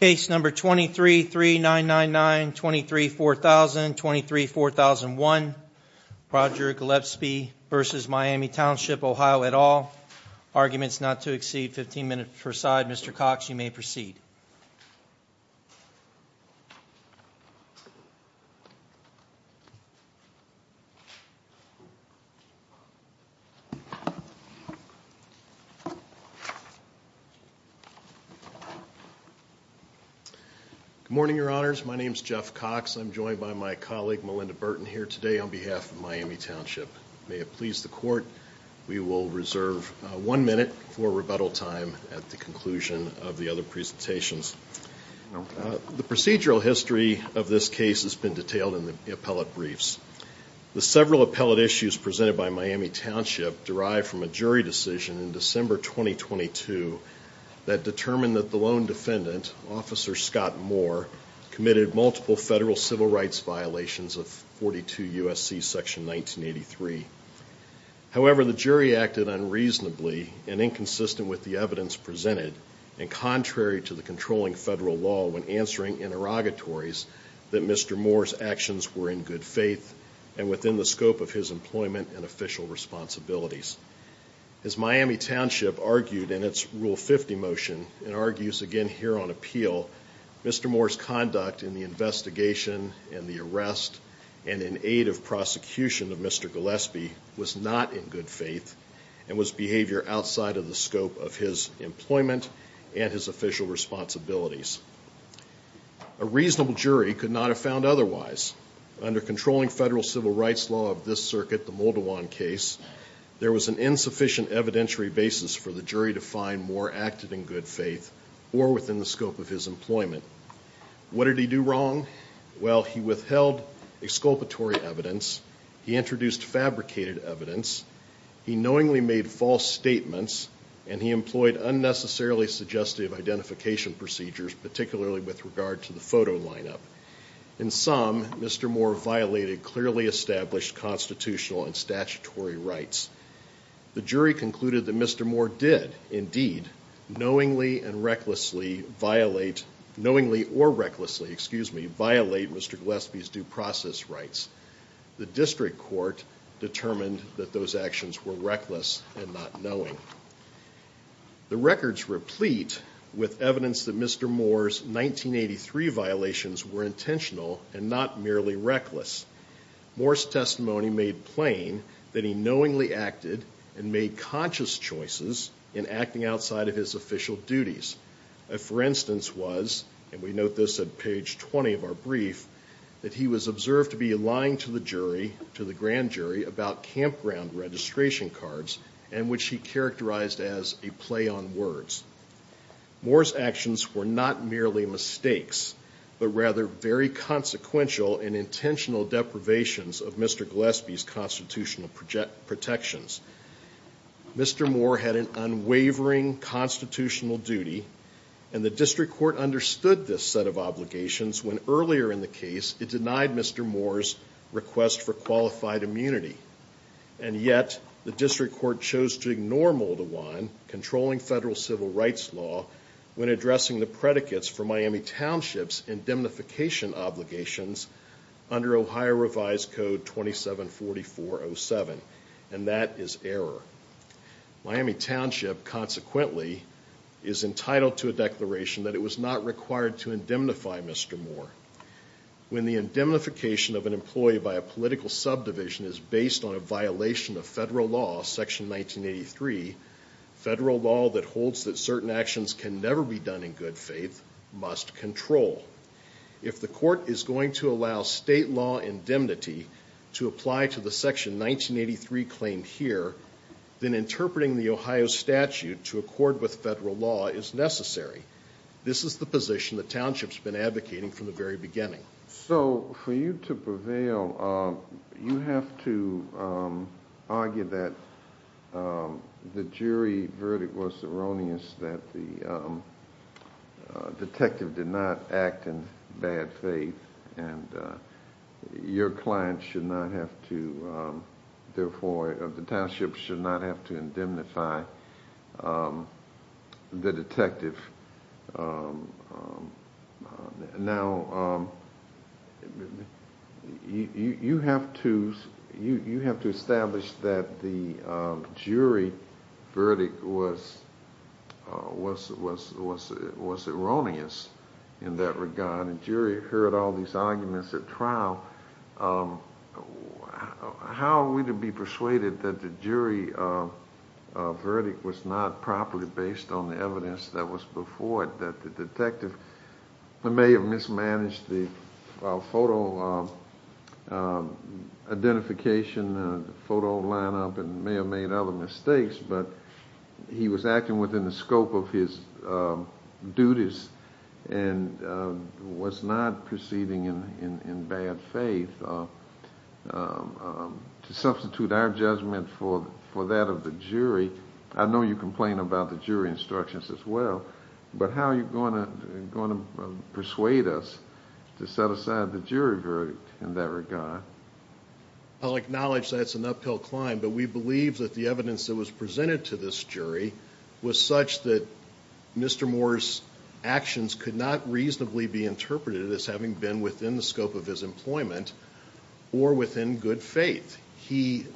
Case number 23-3999, 23-4000, 23-4001, Roger Gillispie v. Miami Township OH at all. Arguments not to exceed 15 minutes per side. Mr. Cox, you may proceed. Good morning, your honors. My name is Jeff Cox. I'm joined by my colleague Melinda Burton here today on behalf of Miami Township. May it please the court, we will reserve one minute for rebuttal time at the conclusion of the other presentations. The procedural history of this case has been detailed in the appellate briefs. The several appellate issues presented by Miami Township derived from a jury decision in December 2022 that determined that the lone defendant, Officer Scott Moore, committed multiple federal civil rights violations of 42 U.S.C. section 1983. However, the jury acted unreasonably and inconsistent with the evidence presented and contrary to the controlling federal law when answering interrogatories that Mr. Moore's actions were in good faith and within the scope of his employment and official responsibilities. As Miami Township argued in its Rule 50 motion and argues again here on appeal, Mr. Moore's conduct in the investigation and the arrest and in aid of prosecution of Mr. Gillispie was not in good faith and was behavior outside of the scope of his employment and his official responsibilities. A reasonable jury could not have found otherwise. Under controlling federal civil rights law of this circuit, the Moldawan case, there was an insufficient evidentiary basis for the jury to find Moore acted in good faith or within the scope of his employment. What did he do wrong? Well, he withheld exculpatory evidence, he introduced fabricated evidence, he knowingly made false statements, and he employed unnecessarily suggestive identification procedures, particularly with regard to the photo lineup. In sum, Mr. Moore violated clearly established constitutional and statutory rights. The jury concluded that Mr. Moore did, indeed, knowingly and recklessly violate, knowingly or recklessly, excuse me, violate Mr. Gillispie's due process rights. The district court determined that those actions were reckless and not knowing. The records replete with evidence that Mr. Moore's 1983 violations were intentional and not merely reckless. Moore's testimony made plain that he knowingly acted and made conscious choices in acting outside of his official duties. For instance was, and we note this at page 20 of our brief, that he was observed to be lying to the jury, to the grand jury, about campground registration cards, and which he characterized as a play on words. Moore's actions were not merely mistakes, but rather very consequential and intentional deprivations of Mr. Gillispie's constitutional protections. Mr. Moore had an unwavering constitutional duty, and the district court understood this set of obligations when earlier in the case it denied Mr. Moore's request for qualified immunity. And yet, the district court chose to ignore Moldavan, controlling federal civil rights law, when addressing the predicates for Miami Township's indemnification obligations under Ohio Revised Code 274407. And that is error. Miami Township, consequently, is entitled to a declaration that it was not required to indemnify Mr. Moore. When the indemnification of an employee by a political subdivision is based on a violation of federal law, Section 1983, federal law that holds that certain actions can never be done in good faith, must control. If the court is going to allow state law indemnity to apply to the Section 1983 claim here, then interpreting the Ohio statute to accord with federal law is necessary. This is the position the township's been advocating from the very beginning. So, for you to prevail, you have to argue that the jury verdict was erroneous, that the detective did not act in bad faith, and your client should not have to, therefore, the township should not have to indemnify the detective. Now, you have to establish that the jury verdict was erroneous in that regard. The jury heard all these arguments at trial. How are we to be persuaded that the jury verdict was not properly based on the evidence that was before it, that the detective may have mismanaged the photo identification, photo lineup, and may have made other mistakes, but he was acting within the scope of his duties and was not proceeding in bad faith? To substitute our judgment for that of the jury, I know you complain about the jury instructions as well, but how are you going to persuade us to set aside the jury verdict in that regard? I'll acknowledge that's an uphill climb, but we believe that the evidence that was presented to this jury was such that Mr. Moore's actions could not reasonably be interpreted as having been within the scope of his employment or within good faith. He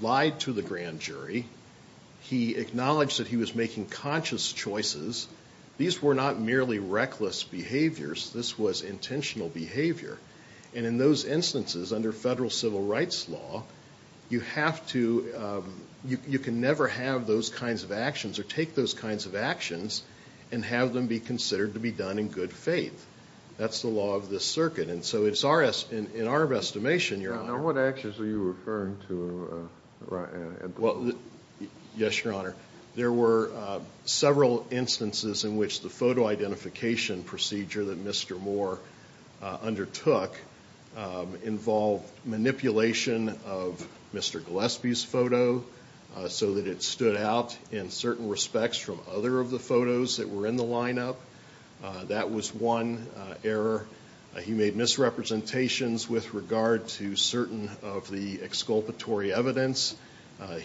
lied to the grand jury. He acknowledged that he was making conscious choices. These were not merely reckless behaviors. This was intentional behavior. And in those instances, under federal civil rights law, you can never have those kinds of actions or take those kinds of actions and have them be considered to be done in good faith. That's the law of this circuit. And so in our estimation, Your Honor— Now, what actions are you referring to at this point? Yes, Your Honor. There were several instances in which the photo identification procedure that Mr. Moore undertook involved manipulation of Mr. Gillespie's photo so that it stood out in certain respects from other of the photos that were in the lineup. That was one error. He made misrepresentations with regard to certain of the exculpatory evidence.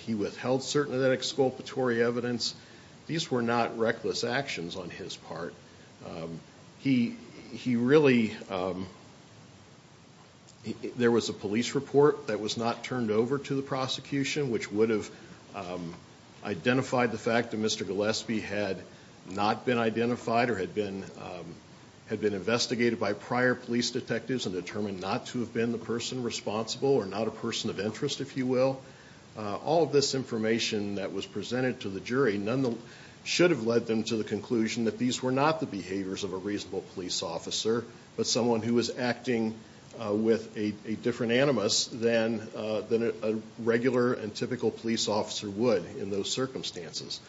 He withheld certain of that exculpatory evidence. These were not reckless actions on his part. He really—there was a police report that was not turned over to the prosecution which would have identified the fact that Mr. Gillespie had not been identified or had been investigated by prior police detectives and determined not to have been the person responsible or not a person of interest, if you will. All of this information that was presented to the jury should have led them to the conclusion that these were not the behaviors of a reasonable police officer but someone who was acting with a different animus than a regular and typical police officer would in those circumstances.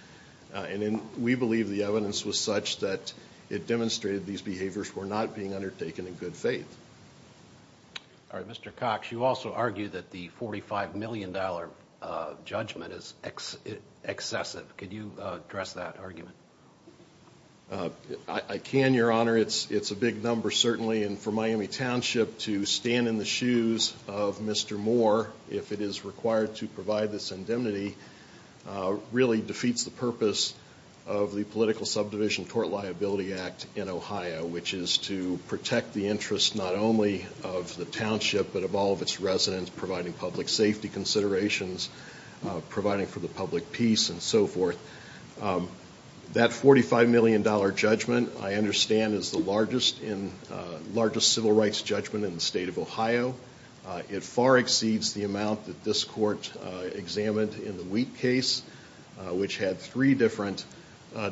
And we believe the evidence was such that it demonstrated that many of these behaviors were not being undertaken in good faith. All right. Mr. Cox, you also argue that the $45 million judgment is excessive. Could you address that argument? I can, Your Honor. It's a big number, certainly. And for Miami Township to stand in the shoes of Mr. Moore, if it is required to provide this indemnity, really defeats the purpose of the Political Subdivision Tort Liability Act in Ohio, which is to protect the interests not only of the township but of all of its residents, providing public safety considerations, providing for the public peace, and so forth. That $45 million judgment, I understand, is the largest civil rights judgment in the state of Ohio. It far exceeds the amount that this court examined in the Wheat case, which had three different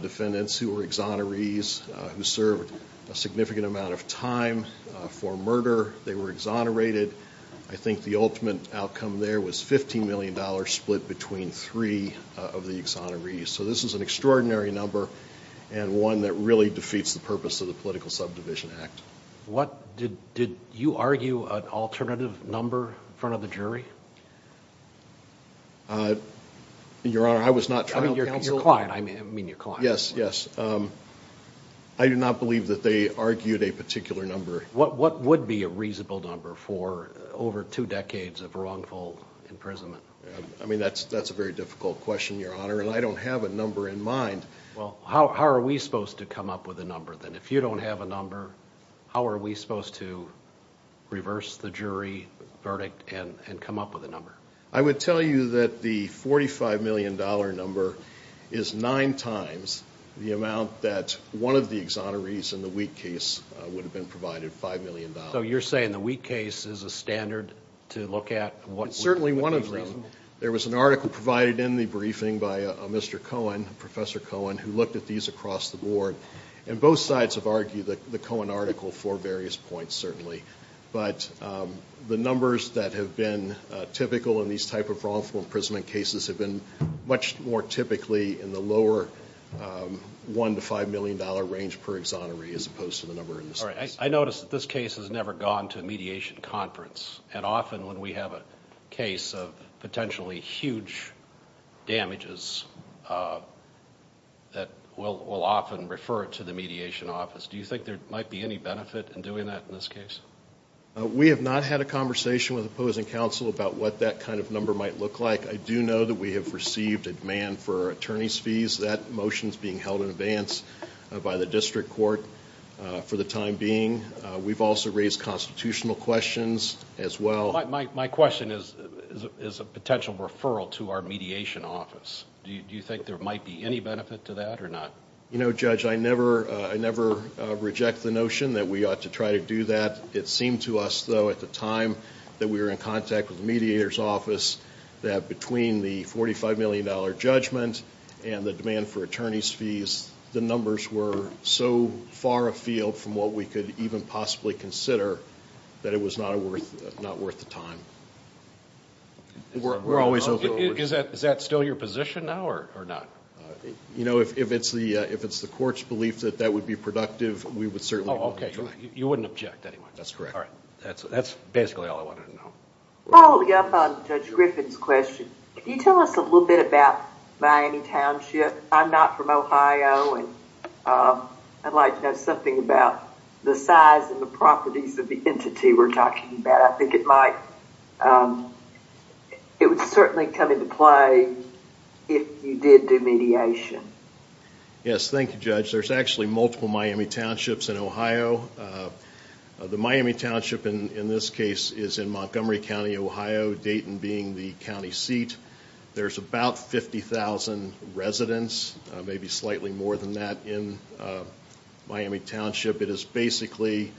defendants who were exonerees, who served a significant amount of time for murder. They were exonerated. I think the ultimate outcome there was $15 million split between three of the exonerees. So this is an extraordinary number and one that really defeats the purpose of the Political Subdivision Act. Did you argue an alternative number in front of the jury? Your Honor, I was not trying to counsel. I mean, your client. Yes, yes. I do not believe that they argued a particular number. What would be a reasonable number for over two decades of wrongful imprisonment? I mean, that's a very difficult question, Your Honor, and I don't have a number in mind. Well, how are we supposed to come up with a number then? If you don't have a number, how are we supposed to reverse the jury verdict and come up with a number? I would tell you that the $45 million number is nine times the amount that one of the exonerees in the Wheat case would have been provided, $5 million. So you're saying the Wheat case is a standard to look at? Certainly one of them. There was an article provided in the briefing by Mr. Cohen, Professor Cohen, who looked at these across the board. And both sides have argued the Cohen article for various points, certainly. But the numbers that have been typical in these type of wrongful imprisonment cases have been much more typically in the lower $1 million to $5 million range per exoneree as opposed to the number in this case. I notice that this case has never gone to a mediation conference. And often when we have a case of potentially huge damages, that we'll often refer it to the mediation office. Do you think there might be any benefit in doing that in this case? We have not had a conversation with opposing counsel about what that kind of number might look like. I do know that we have received a demand for attorneys' fees. That motion is being held in advance by the district court for the time being. We've also raised constitutional questions as well. My question is a potential referral to our mediation office. Do you think there might be any benefit to that or not? You know, Judge, I never reject the notion that we ought to try to do that. It seemed to us, though, at the time that we were in contact with the mediator's office, that between the $45 million judgment and the demand for attorneys' fees, the numbers were so far afield from what we could even possibly consider, that it was not worth the time. Is that still your position now or not? You know, if it's the court's belief that that would be productive, we would certainly object to that. Oh, okay. You wouldn't object anyway. That's correct. All right. That's basically all I wanted to know. Following up on Judge Griffin's question, can you tell us a little bit about Miami Township? I'm not from Ohio. I'd like to know something about the size and the properties of the entity we're talking about. I think it might – it would certainly come into play if you did do mediation. Yes. Thank you, Judge. There's actually multiple Miami Townships in Ohio. The Miami Township in this case is in Montgomery County, Ohio, Dayton being the county seat. There's about 50,000 residents, maybe slightly more than that, in Miami Township. It is basically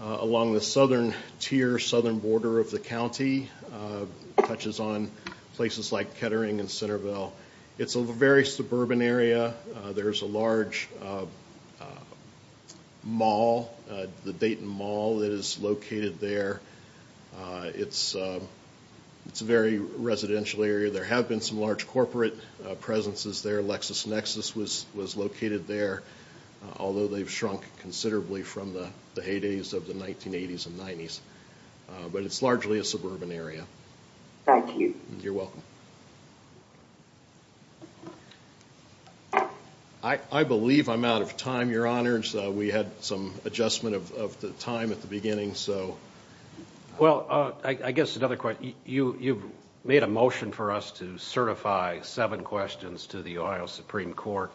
along the southern tier, southern border of the county. It touches on places like Kettering and Centerville. It's a very suburban area. There's a large mall, the Dayton Mall, that is located there. It's a very residential area. There have been some large corporate presences there. LexisNexis was located there, although they've shrunk considerably from the heydays of the 1980s and 90s. But it's largely a suburban area. Thank you. You're welcome. I believe I'm out of time, Your Honors. We had some adjustment of time at the beginning. Well, I guess another question. You've made a motion for us to certify seven questions to the Ohio Supreme Court.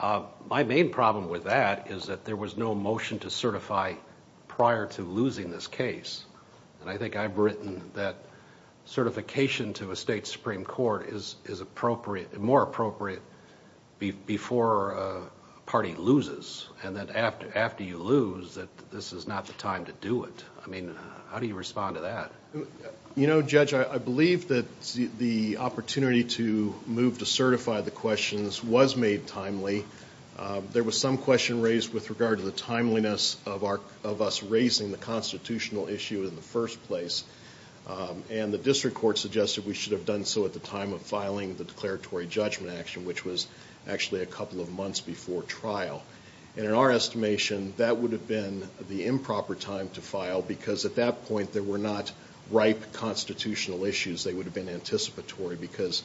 My main problem with that is that there was no motion to certify prior to losing this case. I think I've written that certification to a state supreme court is more appropriate before a party loses, and that after you lose, that this is not the time to do it. I mean, how do you respond to that? You know, Judge, I believe that the opportunity to move to certify the questions was made timely. There was some question raised with regard to the timeliness of us raising the constitutional issue in the first place, and the district court suggested we should have done so at the time of filing the declaratory judgment action, which was actually a couple of months before trial. And in our estimation, that would have been the improper time to file, because at that point there were not ripe constitutional issues that would have been anticipatory, because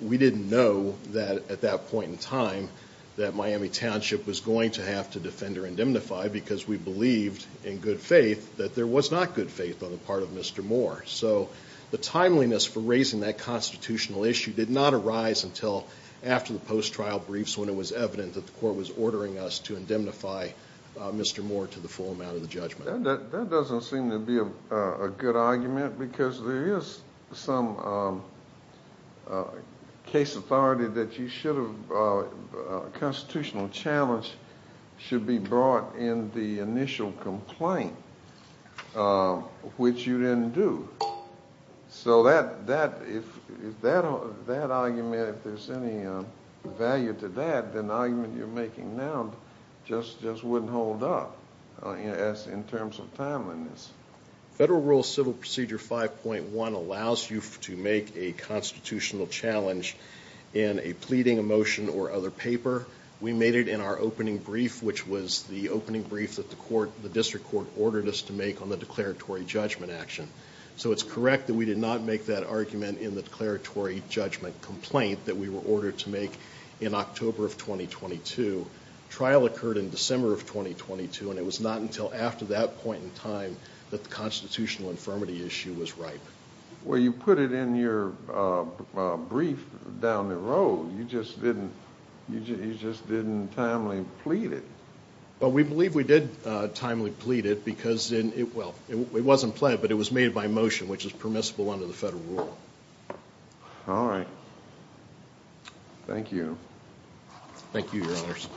we didn't know that at that point in time that Miami Township was going to have to defend or indemnify because we believed in good faith that there was not good faith on the part of Mr. Moore. So the timeliness for raising that constitutional issue did not arise until after the post-trial briefs when it was evident that the court was ordering us to indemnify Mr. Moore to the full amount of the judgment. That doesn't seem to be a good argument, because there is some case authority that you should have—constitutional challenge should be brought in the initial complaint, which you didn't do. So that argument, if there's any value to that, then the argument you're making now just wouldn't hold up, in terms of timeliness. Federal Rule Civil Procedure 5.1 allows you to make a constitutional challenge in a pleading, a motion, or other paper. We made it in our opening brief, which was the opening brief that the district court ordered us to make on the declaratory judgment action. So it's correct that we did not make that argument in the declaratory judgment complaint that we were ordered to make in October of 2022. Trial occurred in December of 2022, and it was not until after that point in time that the constitutional infirmity issue was ripe. Well, you put it in your brief down the road. You just didn't timely plead it. Well, we believe we did timely plead it, because—well, it wasn't pleaded, but it was made by motion, which is permissible under the federal rule. All right. Thank you. Thank you, Your Honors.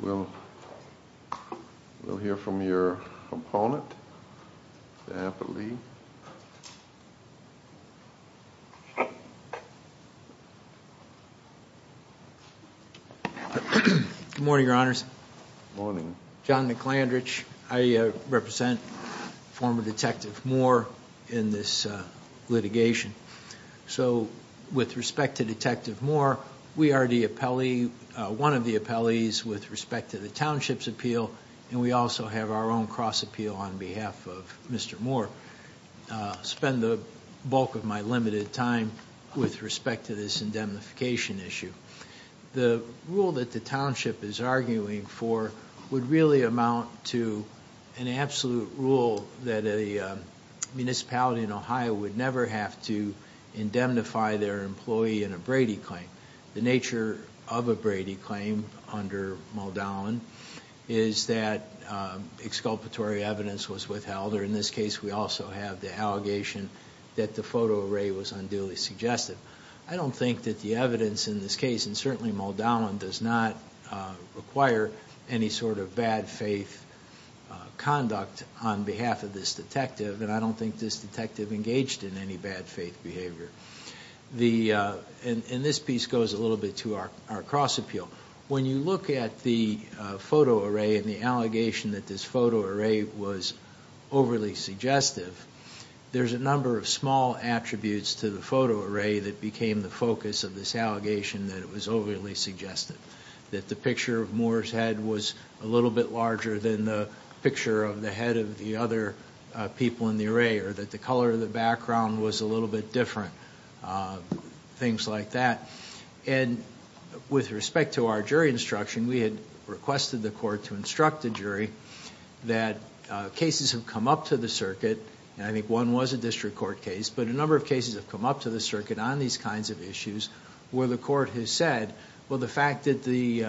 We'll hear from your opponent, Stafford Lee. Good morning, Your Honors. Good morning. John McLandridge. I represent former Detective Moore in this litigation. So with respect to Detective Moore, we are one of the appellees with respect to the township's appeal, and we also have our own cross appeal on behalf of Mr. Moore. Spend the bulk of my limited time with respect to this indemnification issue. The rule that the township is arguing for would really amount to an absolute rule that a municipality in Ohio would never have to indemnify their employee in a Brady claim. The nature of a Brady claim under Muldown is that exculpatory evidence was withheld, or in this case, we also have the allegation that the photo array was unduly suggested. I don't think that the evidence in this case, and certainly Muldown does not require any sort of bad faith conduct on behalf of this detective, and I don't think this detective engaged in any bad faith behavior. And this piece goes a little bit to our cross appeal. When you look at the photo array and the allegation that this photo array was overly suggestive, there's a number of small attributes to the photo array that became the focus of this allegation that it was overly suggestive. That the picture of Moore's head was a little bit larger than the picture of the head of the other people in the array, or that the color of the background was a little bit different, things like that. And with respect to our jury instruction, we had requested the court to instruct the jury that cases have come up to the circuit, and I think one was a district court case, but a number of cases have come up to the circuit on these kinds of issues where the court has said, well, the fact that the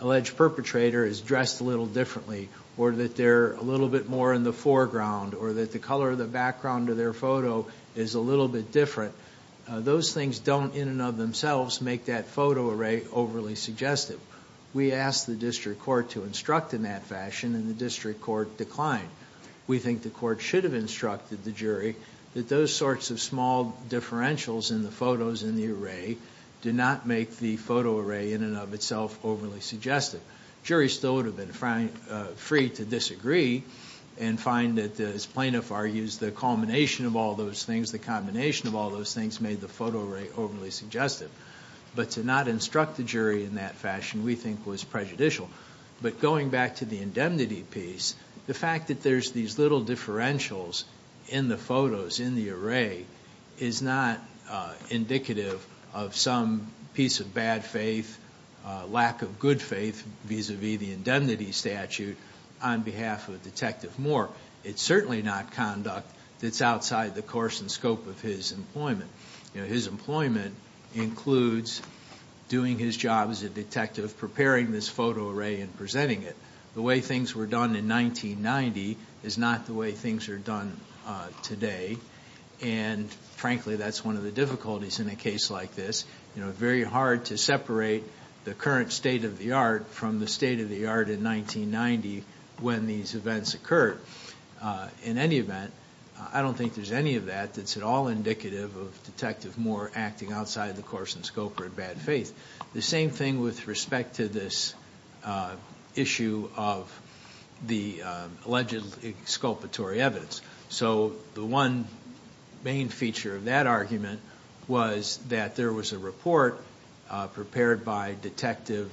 alleged perpetrator is dressed a little differently, or that they're a little bit more in the foreground, or that the color of the background of their photo is a little bit different, those things don't in and of themselves make that photo array overly suggestive. We asked the district court to instruct in that fashion, and the district court declined. We think the court should have instructed the jury that those sorts of small differentials in the photos in the array did not make the photo array in and of itself overly suggestive. Juries still would have been free to disagree and find that, as plaintiff argues, the culmination of all those things, the combination of all those things, made the photo array overly suggestive. But to not instruct the jury in that fashion we think was prejudicial. But going back to the indemnity piece, the fact that there's these little differentials in the photos, in the array, is not indicative of some piece of bad faith, lack of good faith, vis-a-vis the indemnity statute on behalf of Detective Moore. It's certainly not conduct that's outside the course and scope of his employment. His employment includes doing his job as a detective, preparing this photo array and presenting it. The way things were done in 1990 is not the way things are done today, and frankly that's one of the difficulties in a case like this. It's very hard to separate the current state of the art from the state of the art in 1990 when these events occurred. In any event, I don't think there's any of that that's at all indicative of Detective Moore acting outside the course and scope or in bad faith. The same thing with respect to this issue of the alleged exculpatory evidence. So the one main feature of that argument was that there was a report prepared by Detective,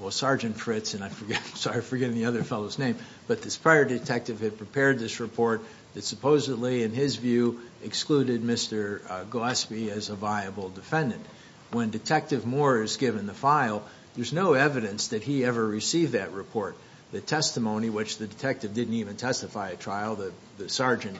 well, Sergeant Fritz, and I'm sorry, I'm forgetting the other fellow's name, but this prior detective had prepared this report that supposedly, in his view, excluded Mr. Gillespie as a viable defendant. When Detective Moore is given the file, there's no evidence that he ever received that report. The testimony, which the detective didn't even testify at trial, the sergeant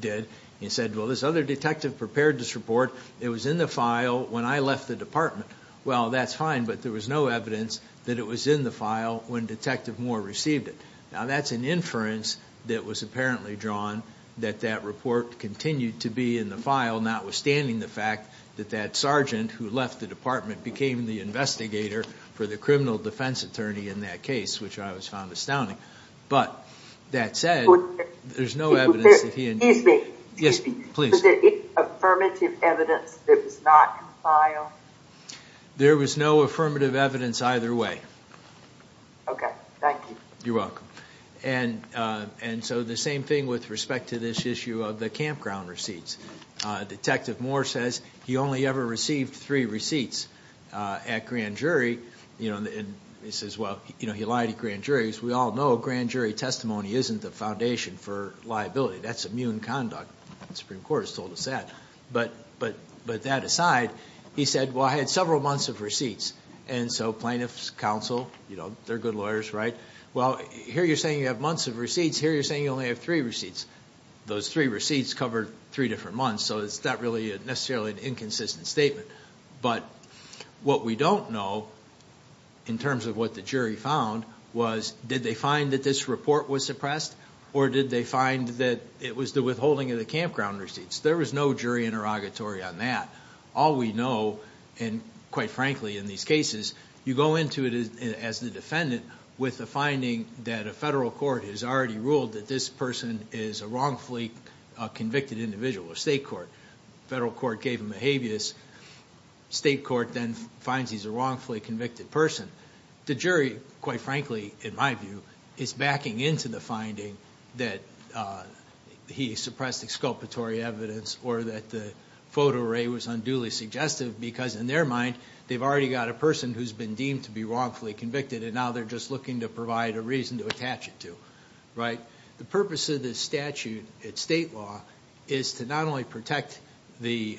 did, he said, well, this other detective prepared this report, it was in the file when I left the department. Well, that's fine, but there was no evidence that it was in the file when Detective Moore received it. Now, that's an inference that was apparently drawn, that that report continued to be in the file, notwithstanding the fact that that sergeant who left the department became the investigator for the criminal defense attorney in that case, which I found astounding. But that said, there's no evidence that he... Excuse me. Yes, please. Was there affirmative evidence that it was not in the file? There was no affirmative evidence either way. Okay, thank you. You're welcome. And so the same thing with respect to this issue of the campground receipts. Detective Moore says he only ever received three receipts at grand jury, and he says, well, he lied at grand jury. As we all know, grand jury testimony isn't the foundation for liability. That's immune conduct. The Supreme Court has told us that. But that aside, he said, well, I had several months of receipts. And so plaintiffs counsel, you know, they're good lawyers, right? Well, here you're saying you have months of receipts. Here you're saying you only have three receipts. Those three receipts covered three different months, so it's not really necessarily an inconsistent statement. But what we don't know in terms of what the jury found was did they find that this report was suppressed or did they find that it was the withholding of the campground receipts? There was no jury interrogatory on that. All we know, and quite frankly in these cases, you go into it as the defendant with the finding that a federal court has already ruled that this person is a wrongfully convicted individual, a state court. Federal court gave him a habeas. State court then finds he's a wrongfully convicted person. The jury, quite frankly, in my view, is backing into the finding that he suppressed exculpatory evidence or that the photo array was unduly suggestive because, in their mind, they've already got a person who's been deemed to be wrongfully convicted, and now they're just looking to provide a reason to attach it to, right? The purpose of this statute at state law is to not only protect the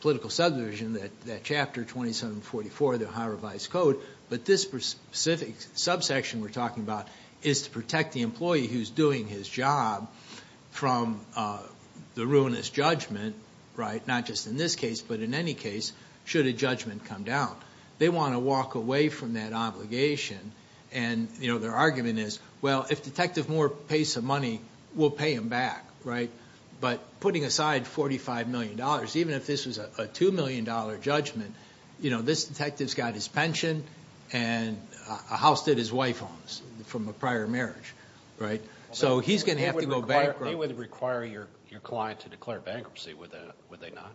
political subdivision, that Chapter 2744 of the Ohio Revised Code, but this specific subsection we're talking about is to protect the employee who's doing his job from the ruinous judgment, right? Not just in this case, but in any case, should a judgment come down. They want to walk away from that obligation, and their argument is, well, if Detective Moore pays some money, we'll pay him back, right? But putting aside $45 million, even if this was a $2 million judgment, this detective's got his pension and a house that his wife owns from a prior marriage, right? So he's going to have to go bankrupt. They wouldn't require your client to declare bankruptcy, would they not?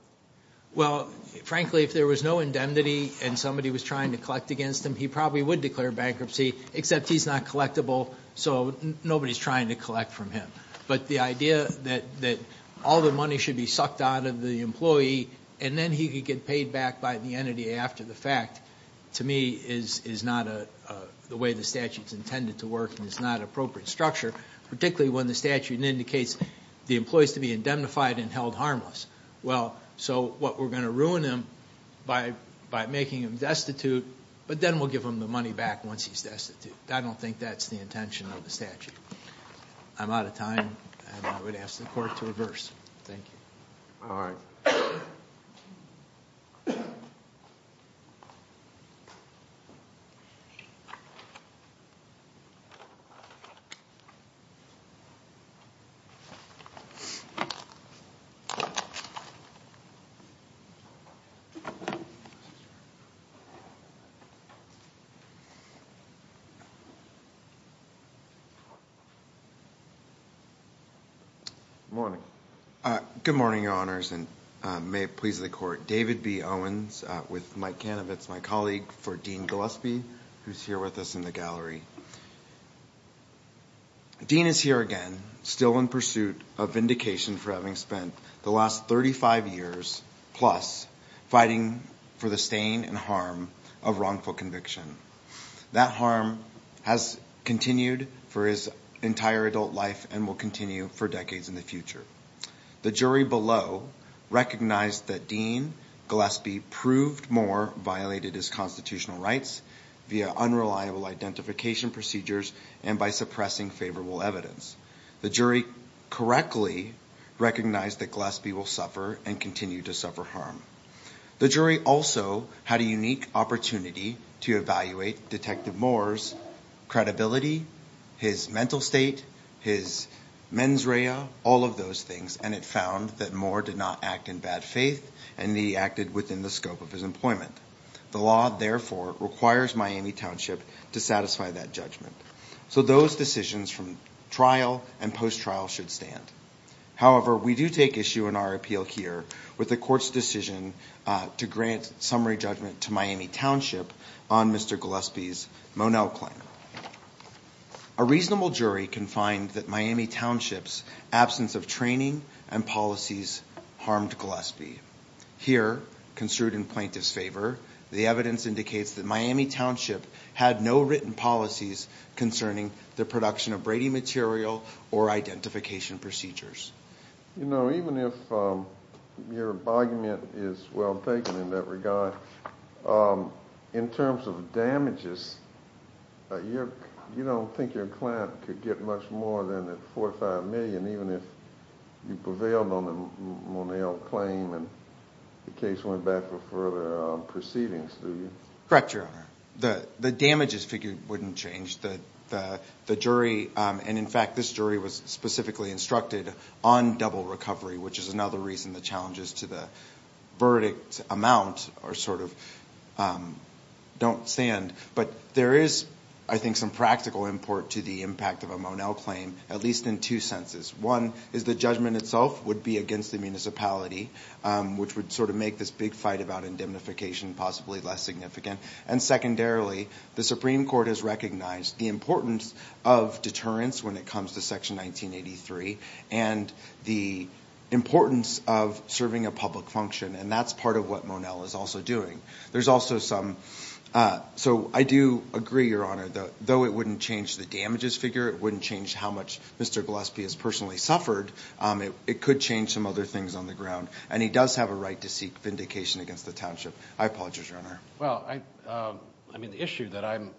Well, frankly, if there was no indemnity and somebody was trying to collect against him, he probably would declare bankruptcy, except he's not collectible, so nobody's trying to collect from him. But the idea that all the money should be sucked out of the employee, and then he could get paid back by the entity after the fact, to me, is not the way the statute's intended to work and is not an appropriate structure, particularly when the statute indicates the employee's to be indemnified and held harmless. Well, so what, we're going to ruin him by making him destitute, but then we'll give him the money back once he's destitute. I don't think that's the intention of the statute. I'm out of time, and I would ask the court to reverse. Thank you. All right. Good morning. Good morning, Your Honors, and may it please the Court. David B. Owens with Mike Kanovitz, my colleague for Dean Gillespie, who's here with us in the gallery. Dean is here again, still in pursuit of vindication for having spent the last 35 years-plus fighting for the stain and harm of wrongful conviction. That harm has continued for his entire adult life and will continue for decades in the future. The jury below recognized that Dean Gillespie proved Moore violated his constitutional rights via unreliable identification procedures and by suppressing favorable evidence. The jury correctly recognized that Gillespie will suffer and continue to suffer harm. The jury also had a unique opportunity to evaluate Detective Moore's credibility, his mental state, his mens rea, all of those things, and it found that Moore did not act in bad faith and he acted within the scope of his employment. The law, therefore, requires Miami Township to satisfy that judgment. So those decisions from trial and post-trial should stand. However, we do take issue in our appeal here with the Court's decision to grant summary judgment to Miami Township on Mr. Gillespie's Monell claim. A reasonable jury can find that Miami Township's absence of training and policies harmed Gillespie. Here, construed in plaintiff's favor, the evidence indicates that Miami Township had no written policies concerning the production of Brady material or identification procedures. You know, even if your argument is well taken in that regard, in terms of damages, you don't think your client could get much more than $4 or $5 million even if you prevailed on the Monell claim and the case went back for further proceedings, do you? Correct, Your Honor. The damages figure wouldn't change. The jury, and in fact, this jury was specifically instructed on double recovery, which is another reason the challenges to the verdict amount are sort of don't stand. But there is, I think, some practical import to the impact of a Monell claim, at least in two senses. One is the judgment itself would be against the municipality, which would sort of make this big fight about indemnification possibly less significant. And secondarily, the Supreme Court has recognized the importance of deterrence when it comes to Section 1983 and the importance of serving a public function, and that's part of what Monell is also doing. There's also some, so I do agree, Your Honor, though it wouldn't change the damages figure, it wouldn't change how much Mr. Gillespie has personally suffered, it could change some other things on the ground, and he does have a right to seek vindication against the township. I apologize, Your Honor. Well, I mean, the issue that I'm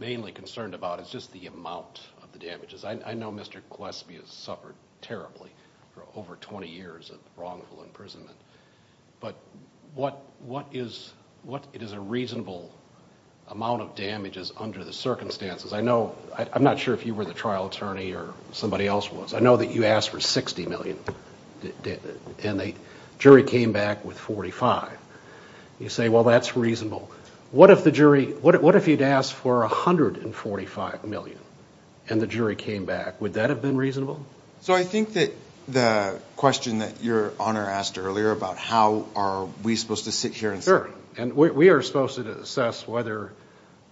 mainly concerned about is just the amount of the damages. I know Mr. Gillespie has suffered terribly for over 20 years of wrongful imprisonment, but what is a reasonable amount of damages under the circumstances? I know, I'm not sure if you were the trial attorney or somebody else was, I know that you asked for $60 million and the jury came back with $45 million. You say, well, that's reasonable. What if the jury, what if you'd asked for $145 million and the jury came back? Would that have been reasonable? So I think that the question that Your Honor asked earlier about how are we supposed to sit here and say... Sure, and we are supposed to assess whether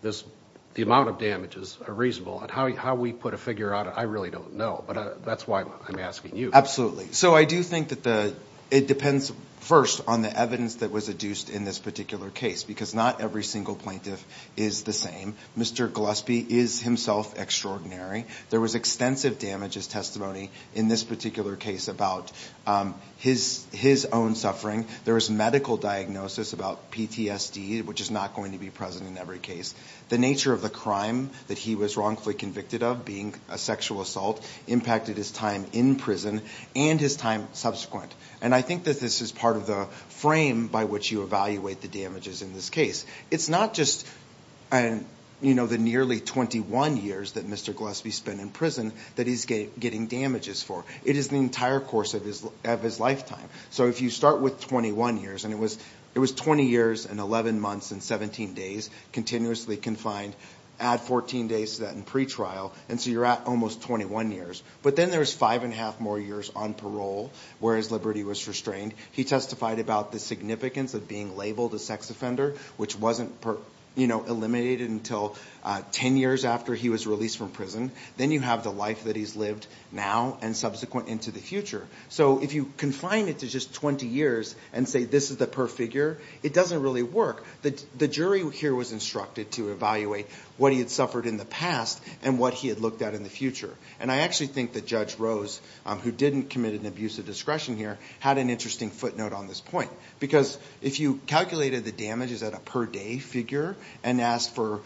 the amount of damages are reasonable and how we put a figure out, I really don't know, but that's why I'm asking you. Absolutely. So I do think that it depends first on the evidence that was adduced in this particular case because not every single plaintiff is the same. Mr. Gillespie is himself extraordinary. There was extensive damages testimony in this particular case about his own suffering. There was medical diagnosis about PTSD, which is not going to be present in every case. The nature of the crime that he was wrongfully convicted of, being a sexual assault, impacted his time in prison and his time subsequent. And I think that this is part of the frame by which you evaluate the damages in this case. It's not just the nearly 21 years that Mr. Gillespie spent in prison that he's getting damages for. It is the entire course of his lifetime. So if you start with 21 years, and it was 20 years and 11 months and 17 days, continuously confined, add 14 days to that in pretrial, and so you're at almost 21 years. But then there's five and a half more years on parole where his liberty was restrained. He testified about the significance of being labeled a sex offender, which wasn't eliminated until 10 years after he was released from prison. Then you have the life that he's lived now and subsequent into the future. So if you confine it to just 20 years and say this is the per figure, it doesn't really work. The jury here was instructed to evaluate what he had suffered in the past and what he had looked at in the future. And I actually think that Judge Rose, who didn't commit an abuse of discretion here, had an interesting footnote on this point. Because if you calculated the damages at a per day figure and asked for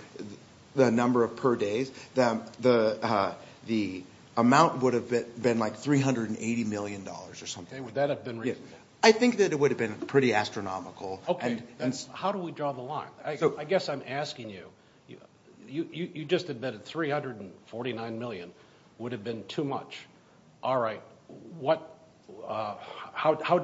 the number of per days, the amount would have been like $380 million or something. Okay, would that have been reasonable? I think that it would have been pretty astronomical. Okay, how do we draw the line? I guess I'm asking you, you just admitted $349 million would have been too much. All right, how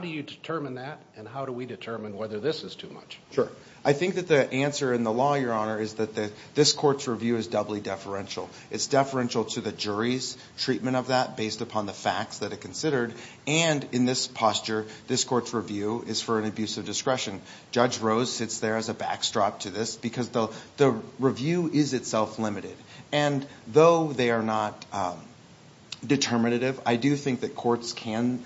do you determine that and how do we determine whether this is too much? Sure. I think that the answer in the law, Your Honor, is that this court's review is doubly deferential. It's deferential to the jury's treatment of that based upon the facts that it considered. And in this posture, this court's review is for an abuse of discretion. Judge Rose sits there as a backstrop to this because the review is itself limited. And though they are not determinative, I do think that courts can,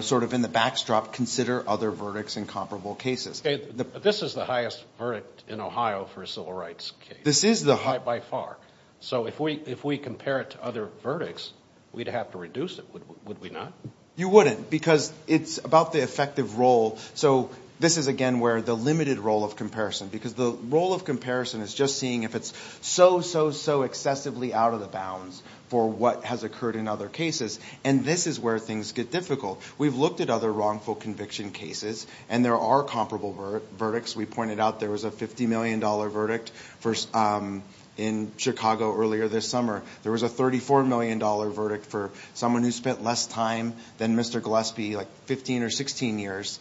sort of in the backstrop, consider other verdicts in comparable cases. This is the highest verdict in Ohio for a civil rights case. This is the highest. By far. So if we compare it to other verdicts, we'd have to reduce it, would we not? You wouldn't because it's about the effective role. So this is, again, where the limited role of comparison, because the role of comparison is just seeing if it's so, so, so excessively out of the bounds for what has occurred in other cases, and this is where things get difficult. We've looked at other wrongful conviction cases, and there are comparable verdicts. We pointed out there was a $50 million verdict in Chicago earlier this summer. There was a $34 million verdict for someone who spent less time than Mr. Gillespie, like 15 or 16 years,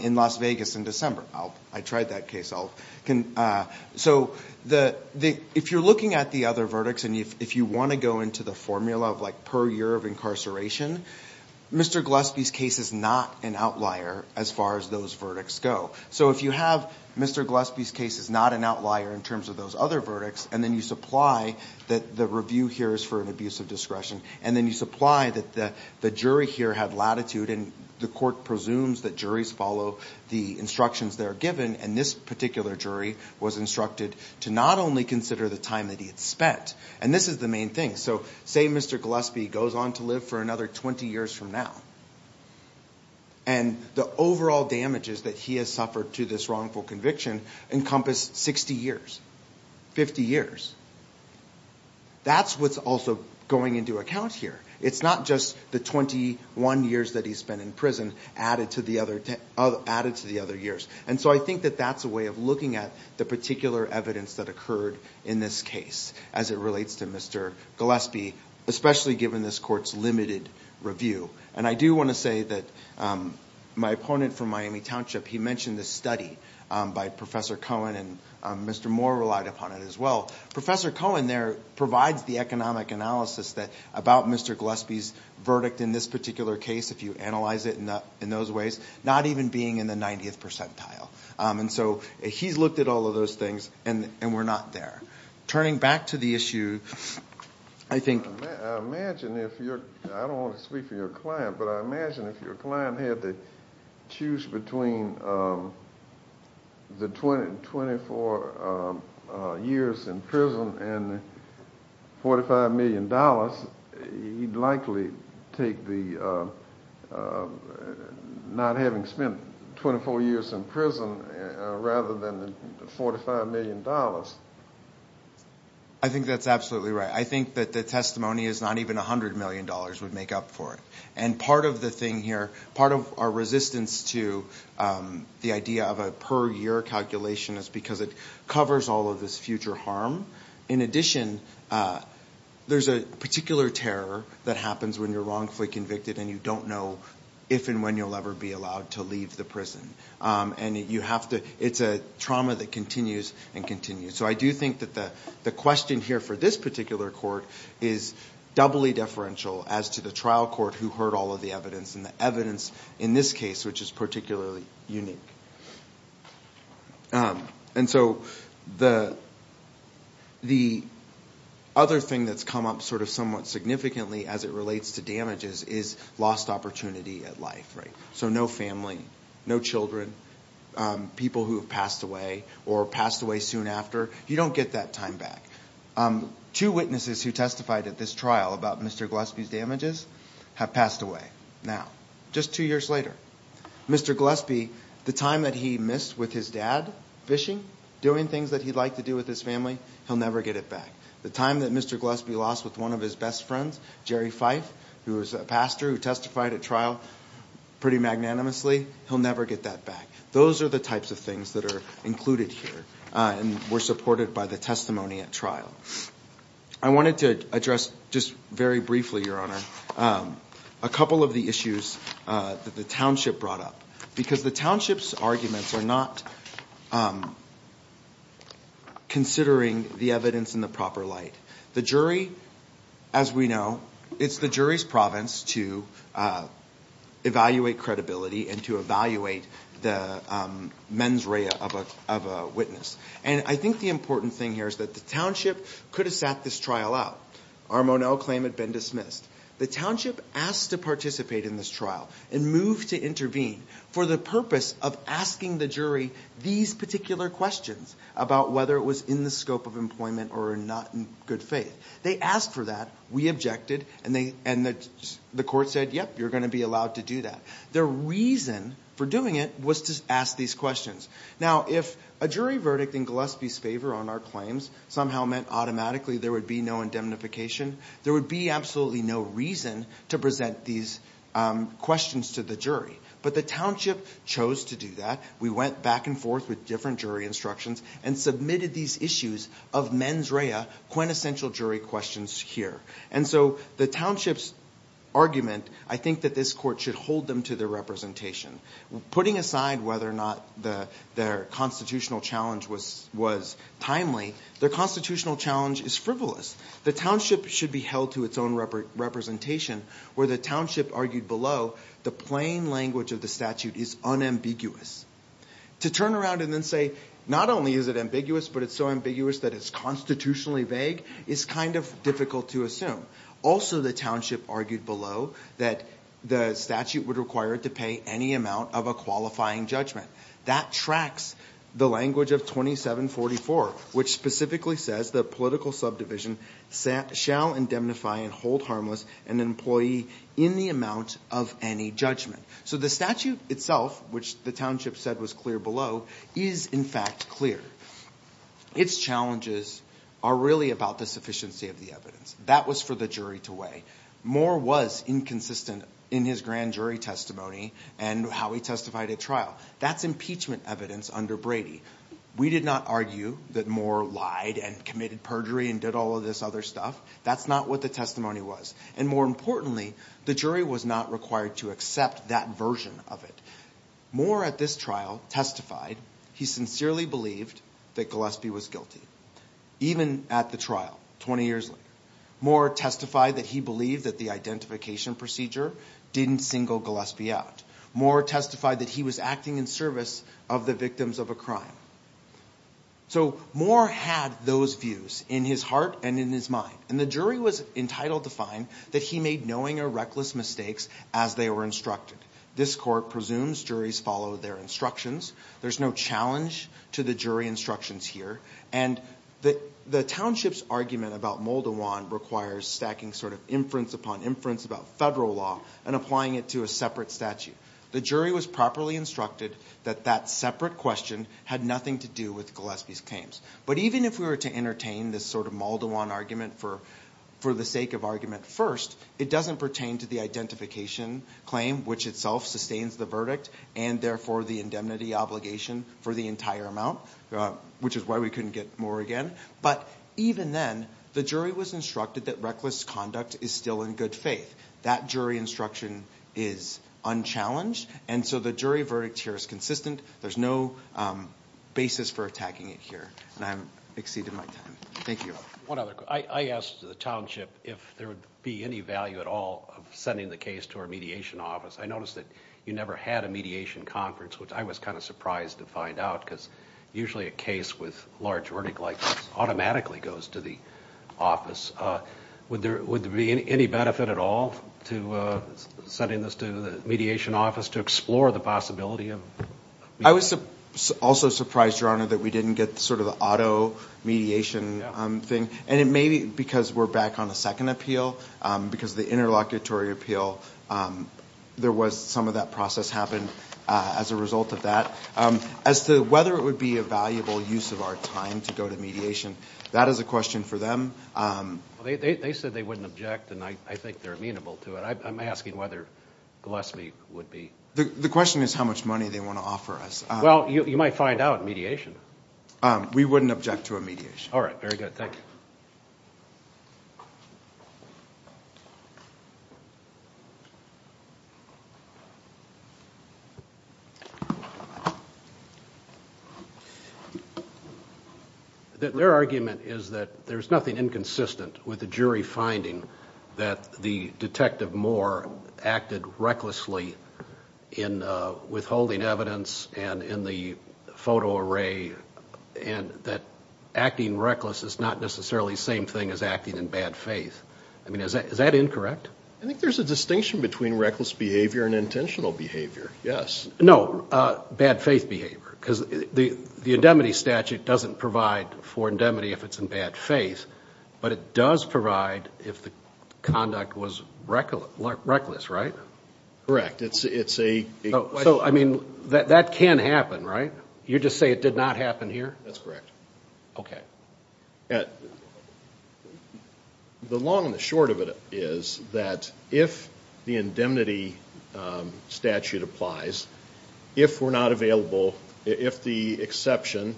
in Las Vegas in December. I tried that case. So if you're looking at the other verdicts and if you want to go into the formula of, like, per year of incarceration, Mr. Gillespie's case is not an outlier as far as those verdicts go. So if you have Mr. Gillespie's case is not an outlier in terms of those other verdicts and then you supply that the review here is for an abuse of discretion and then you supply that the jury here had latitude and the court presumes that juries follow the instructions that are given and this particular jury was instructed to not only consider the time that he had spent, and this is the main thing. So say Mr. Gillespie goes on to live for another 20 years from now and the overall damages that he has suffered to this wrongful conviction encompass 60 years, 50 years. That's what's also going into account here. It's not just the 21 years that he spent in prison added to the other years. And so I think that that's a way of looking at the particular evidence that occurred in this case as it relates to Mr. Gillespie, especially given this court's limited review. And I do want to say that my opponent from Miami Township, he mentioned this study by Professor Cohen and Mr. Moore relied upon it as well. Professor Cohen there provides the economic analysis about Mr. Gillespie's verdict in this particular case, if you analyze it in those ways, not even being in the 90th percentile. And so he's looked at all of those things and we're not there. Turning back to the issue, I think- I imagine if you're-I don't want to speak for your client, but I imagine if your client had to choose between the 24 years in prison and $45 million, he'd likely take the not having spent 24 years in prison rather than the $45 million. I think that's absolutely right. I think that the testimony is not even $100 million would make up for it. And part of the thing here, part of our resistance to the idea of a per year calculation is because it covers all of this future harm. In addition, there's a particular terror that happens when you're wrongfully convicted and you don't know if and when you'll ever be allowed to leave the prison. And you have to-it's a trauma that continues and continues. So I do think that the question here for this particular court is doubly deferential as to the trial court who heard all of the evidence and the evidence in this case, which is particularly unique. And so the other thing that's come up sort of somewhat significantly as it relates to damages is lost opportunity at life. So no family, no children, people who have passed away or passed away soon after. You don't get that time back. Two witnesses who testified at this trial about Mr. Gillespie's damages have passed away now, just two years later. Mr. Gillespie, the time that he missed with his dad fishing, doing things that he liked to do with his family, he'll never get it back. The time that Mr. Gillespie lost with one of his best friends, Jerry Fife, who was a pastor who testified at trial pretty magnanimously, he'll never get that back. Those are the types of things that are included here and were supported by the testimony at trial. I wanted to address just very briefly, Your Honor, a couple of the issues that the township brought up, because the township's arguments are not considering the evidence in the proper light. The jury, as we know, it's the jury's province to evaluate credibility and to evaluate the mens rea of a witness. And I think the important thing here is that the township could have sat this trial out. Our Moneau claim had been dismissed. The township asked to participate in this trial and moved to intervene for the purpose of asking the jury these particular questions about whether it was in the scope of employment or not in good faith. They asked for that. We objected. And the court said, yep, you're going to be allowed to do that. The reason for doing it was to ask these questions. Now, if a jury verdict in Gillespie's favor on our claims somehow meant automatically there would be no indemnification, there would be absolutely no reason to present these questions to the jury. But the township chose to do that. We went back and forth with different jury instructions and submitted these issues of mens rea, quintessential jury questions here. And so the township's argument, I think that this court should hold them to their representation. Putting aside whether or not their constitutional challenge was timely, their constitutional challenge is frivolous. The township should be held to its own representation where the township argued below the plain language of the statute is unambiguous. To turn around and then say not only is it ambiguous but it's so ambiguous that it's constitutionally vague is kind of difficult to assume. Also, the township argued below that the statute would require it to pay any amount of a qualifying judgment. That tracks the language of 2744, which specifically says the political subdivision shall indemnify and hold harmless an employee in the amount of any judgment. So the statute itself, which the township said was clear below, is in fact clear. Its challenges are really about the sufficiency of the evidence. That was for the jury to weigh. Moore was inconsistent in his grand jury testimony and how he testified at trial. That's impeachment evidence under Brady. We did not argue that Moore lied and committed perjury and did all of this other stuff. That's not what the testimony was. And more importantly, the jury was not required to accept that version of it. Moore at this trial testified he sincerely believed that Gillespie was guilty. Even at the trial, 20 years later. Moore testified that he believed that the identification procedure didn't single Gillespie out. Moore testified that he was acting in service of the victims of a crime. So Moore had those views in his heart and in his mind. And the jury was entitled to find that he made knowing or reckless mistakes as they were instructed. This court presumes juries follow their instructions. There's no challenge to the jury instructions here. And the township's argument about Moldawan requires stacking sort of inference upon inference about federal law and applying it to a separate statute. The jury was properly instructed that that separate question had nothing to do with Gillespie's claims. But even if we were to entertain this sort of Moldawan argument for the sake of argument first, it doesn't pertain to the identification claim, which itself sustains the verdict, and therefore the indemnity obligation for the entire amount, which is why we couldn't get Moore again. But even then, the jury was instructed that reckless conduct is still in good faith. That jury instruction is unchallenged. And so the jury verdict here is consistent. There's no basis for attacking it here. And I've exceeded my time. Thank you. One other question. I asked the township if there would be any value at all of sending the case to our mediation office. I noticed that you never had a mediation conference, which I was kind of surprised to find out, because usually a case with large verdict like this automatically goes to the office. Would there be any benefit at all to sending this to the mediation office to explore the possibility of mediation? I was also surprised, Your Honor, that we didn't get sort of the auto mediation thing. And it may be because we're back on the second appeal, because the interlocutory appeal, there was some of that process happened as a result of that. As to whether it would be a valuable use of our time to go to mediation, that is a question for them. They said they wouldn't object, and I think they're amenable to it. I'm asking whether Gillespie would be. The question is how much money they want to offer us. Well, you might find out in mediation. We wouldn't object to a mediation. All right. Very good. Thank you. Their argument is that there's nothing inconsistent with the jury finding that the Detective Moore acted recklessly in withholding evidence and in the photo array, and that acting reckless is not necessarily the same thing as acting in bad faith. I mean, is that incorrect? I think there's a distinction between reckless behavior and intentional behavior, yes. No, bad faith behavior, because the indemnity statute doesn't provide for indemnity if it's in bad faith, but it does provide if the conduct was reckless, right? Correct. It's a question. So, I mean, that can happen, right? You just say it did not happen here? That's correct. Okay. The long and the short of it is that if the indemnity statute applies, if we're not available, if the exception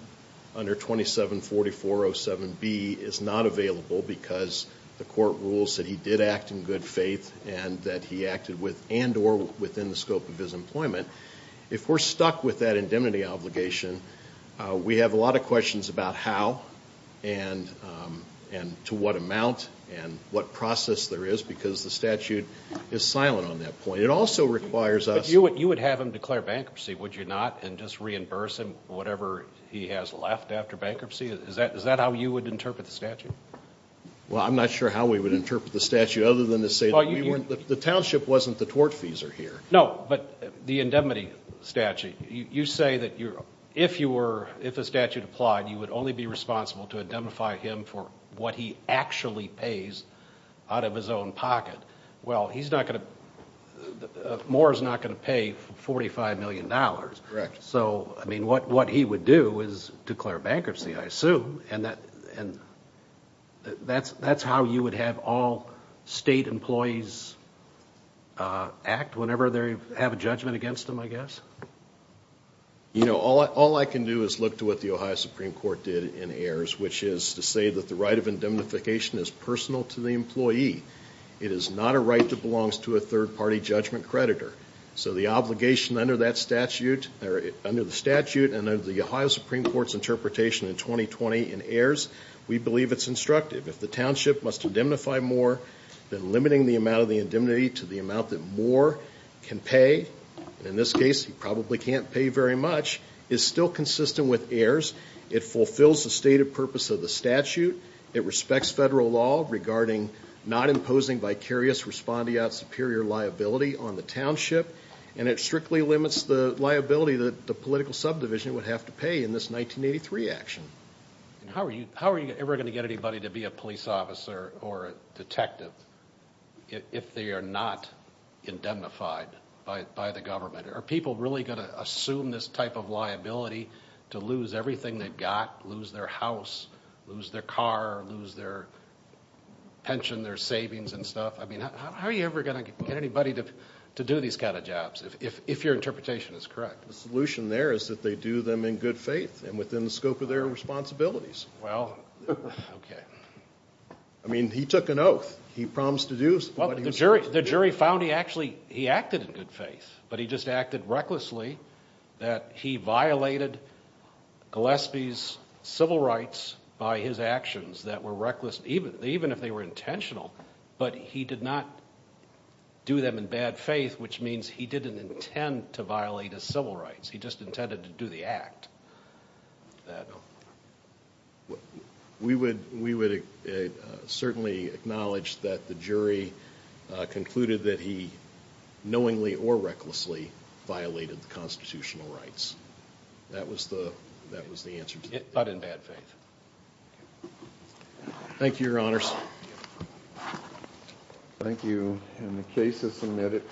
under 274407B is not available because the court rules that he did act in good faith and that he acted with and or within the scope of his employment, if we're stuck with that indemnity obligation, we have a lot of questions about how and to what amount and what process there is because the statute is silent on that point. It also requires us – But you would have him declare bankruptcy, would you not, and just reimburse him whatever he has left after bankruptcy? Is that how you would interpret the statute? Well, I'm not sure how we would interpret the statute other than to say the township wasn't the tortfeasor here. No, but the indemnity statute, you say that if a statute applied, you would only be responsible to indemnify him for what he actually pays out of his own pocket. Well, Moore is not going to pay $45 million. Correct. So, I mean, what he would do is declare bankruptcy, I assume, and that's how you would have all state employees act whenever they have a judgment against them, I guess? You know, all I can do is look to what the Ohio Supreme Court did in Ayers, which is to say that the right of indemnification is personal to the employee. It is not a right that belongs to a third-party judgment creditor. So the obligation under the statute and under the Ohio Supreme Court's interpretation in 2020 in Ayers, we believe it's instructive. If the township must indemnify Moore, then limiting the amount of the indemnity to the amount that Moore can pay, in this case, he probably can't pay very much, is still consistent with Ayers. It fulfills the stated purpose of the statute. It respects federal law regarding not imposing vicarious respondeat superior liability on the township, and it strictly limits the liability that the political subdivision would have to pay in this 1983 action. How are you ever going to get anybody to be a police officer or a detective if they are not indemnified by the government? Are people really going to assume this type of liability to lose everything they've got, lose their house, lose their car, lose their pension, their savings and stuff? I mean, how are you ever going to get anybody to do these kind of jobs, if your interpretation is correct? The solution there is that they do them in good faith and within the scope of their responsibilities. Well, okay. I mean, he took an oath. He promised to do what he was supposed to do. The jury found he actually acted in good faith, but he just acted recklessly, that he violated Gillespie's civil rights by his actions that were reckless, even if they were intentional. But he did not do them in bad faith, which means he didn't intend to violate his civil rights. He just intended to do the act. We would certainly acknowledge that the jury concluded that he knowingly or recklessly violated the constitutional rights. That was the answer to that. But in bad faith. Thank you, Your Honors. Thank you. And the case is submitted.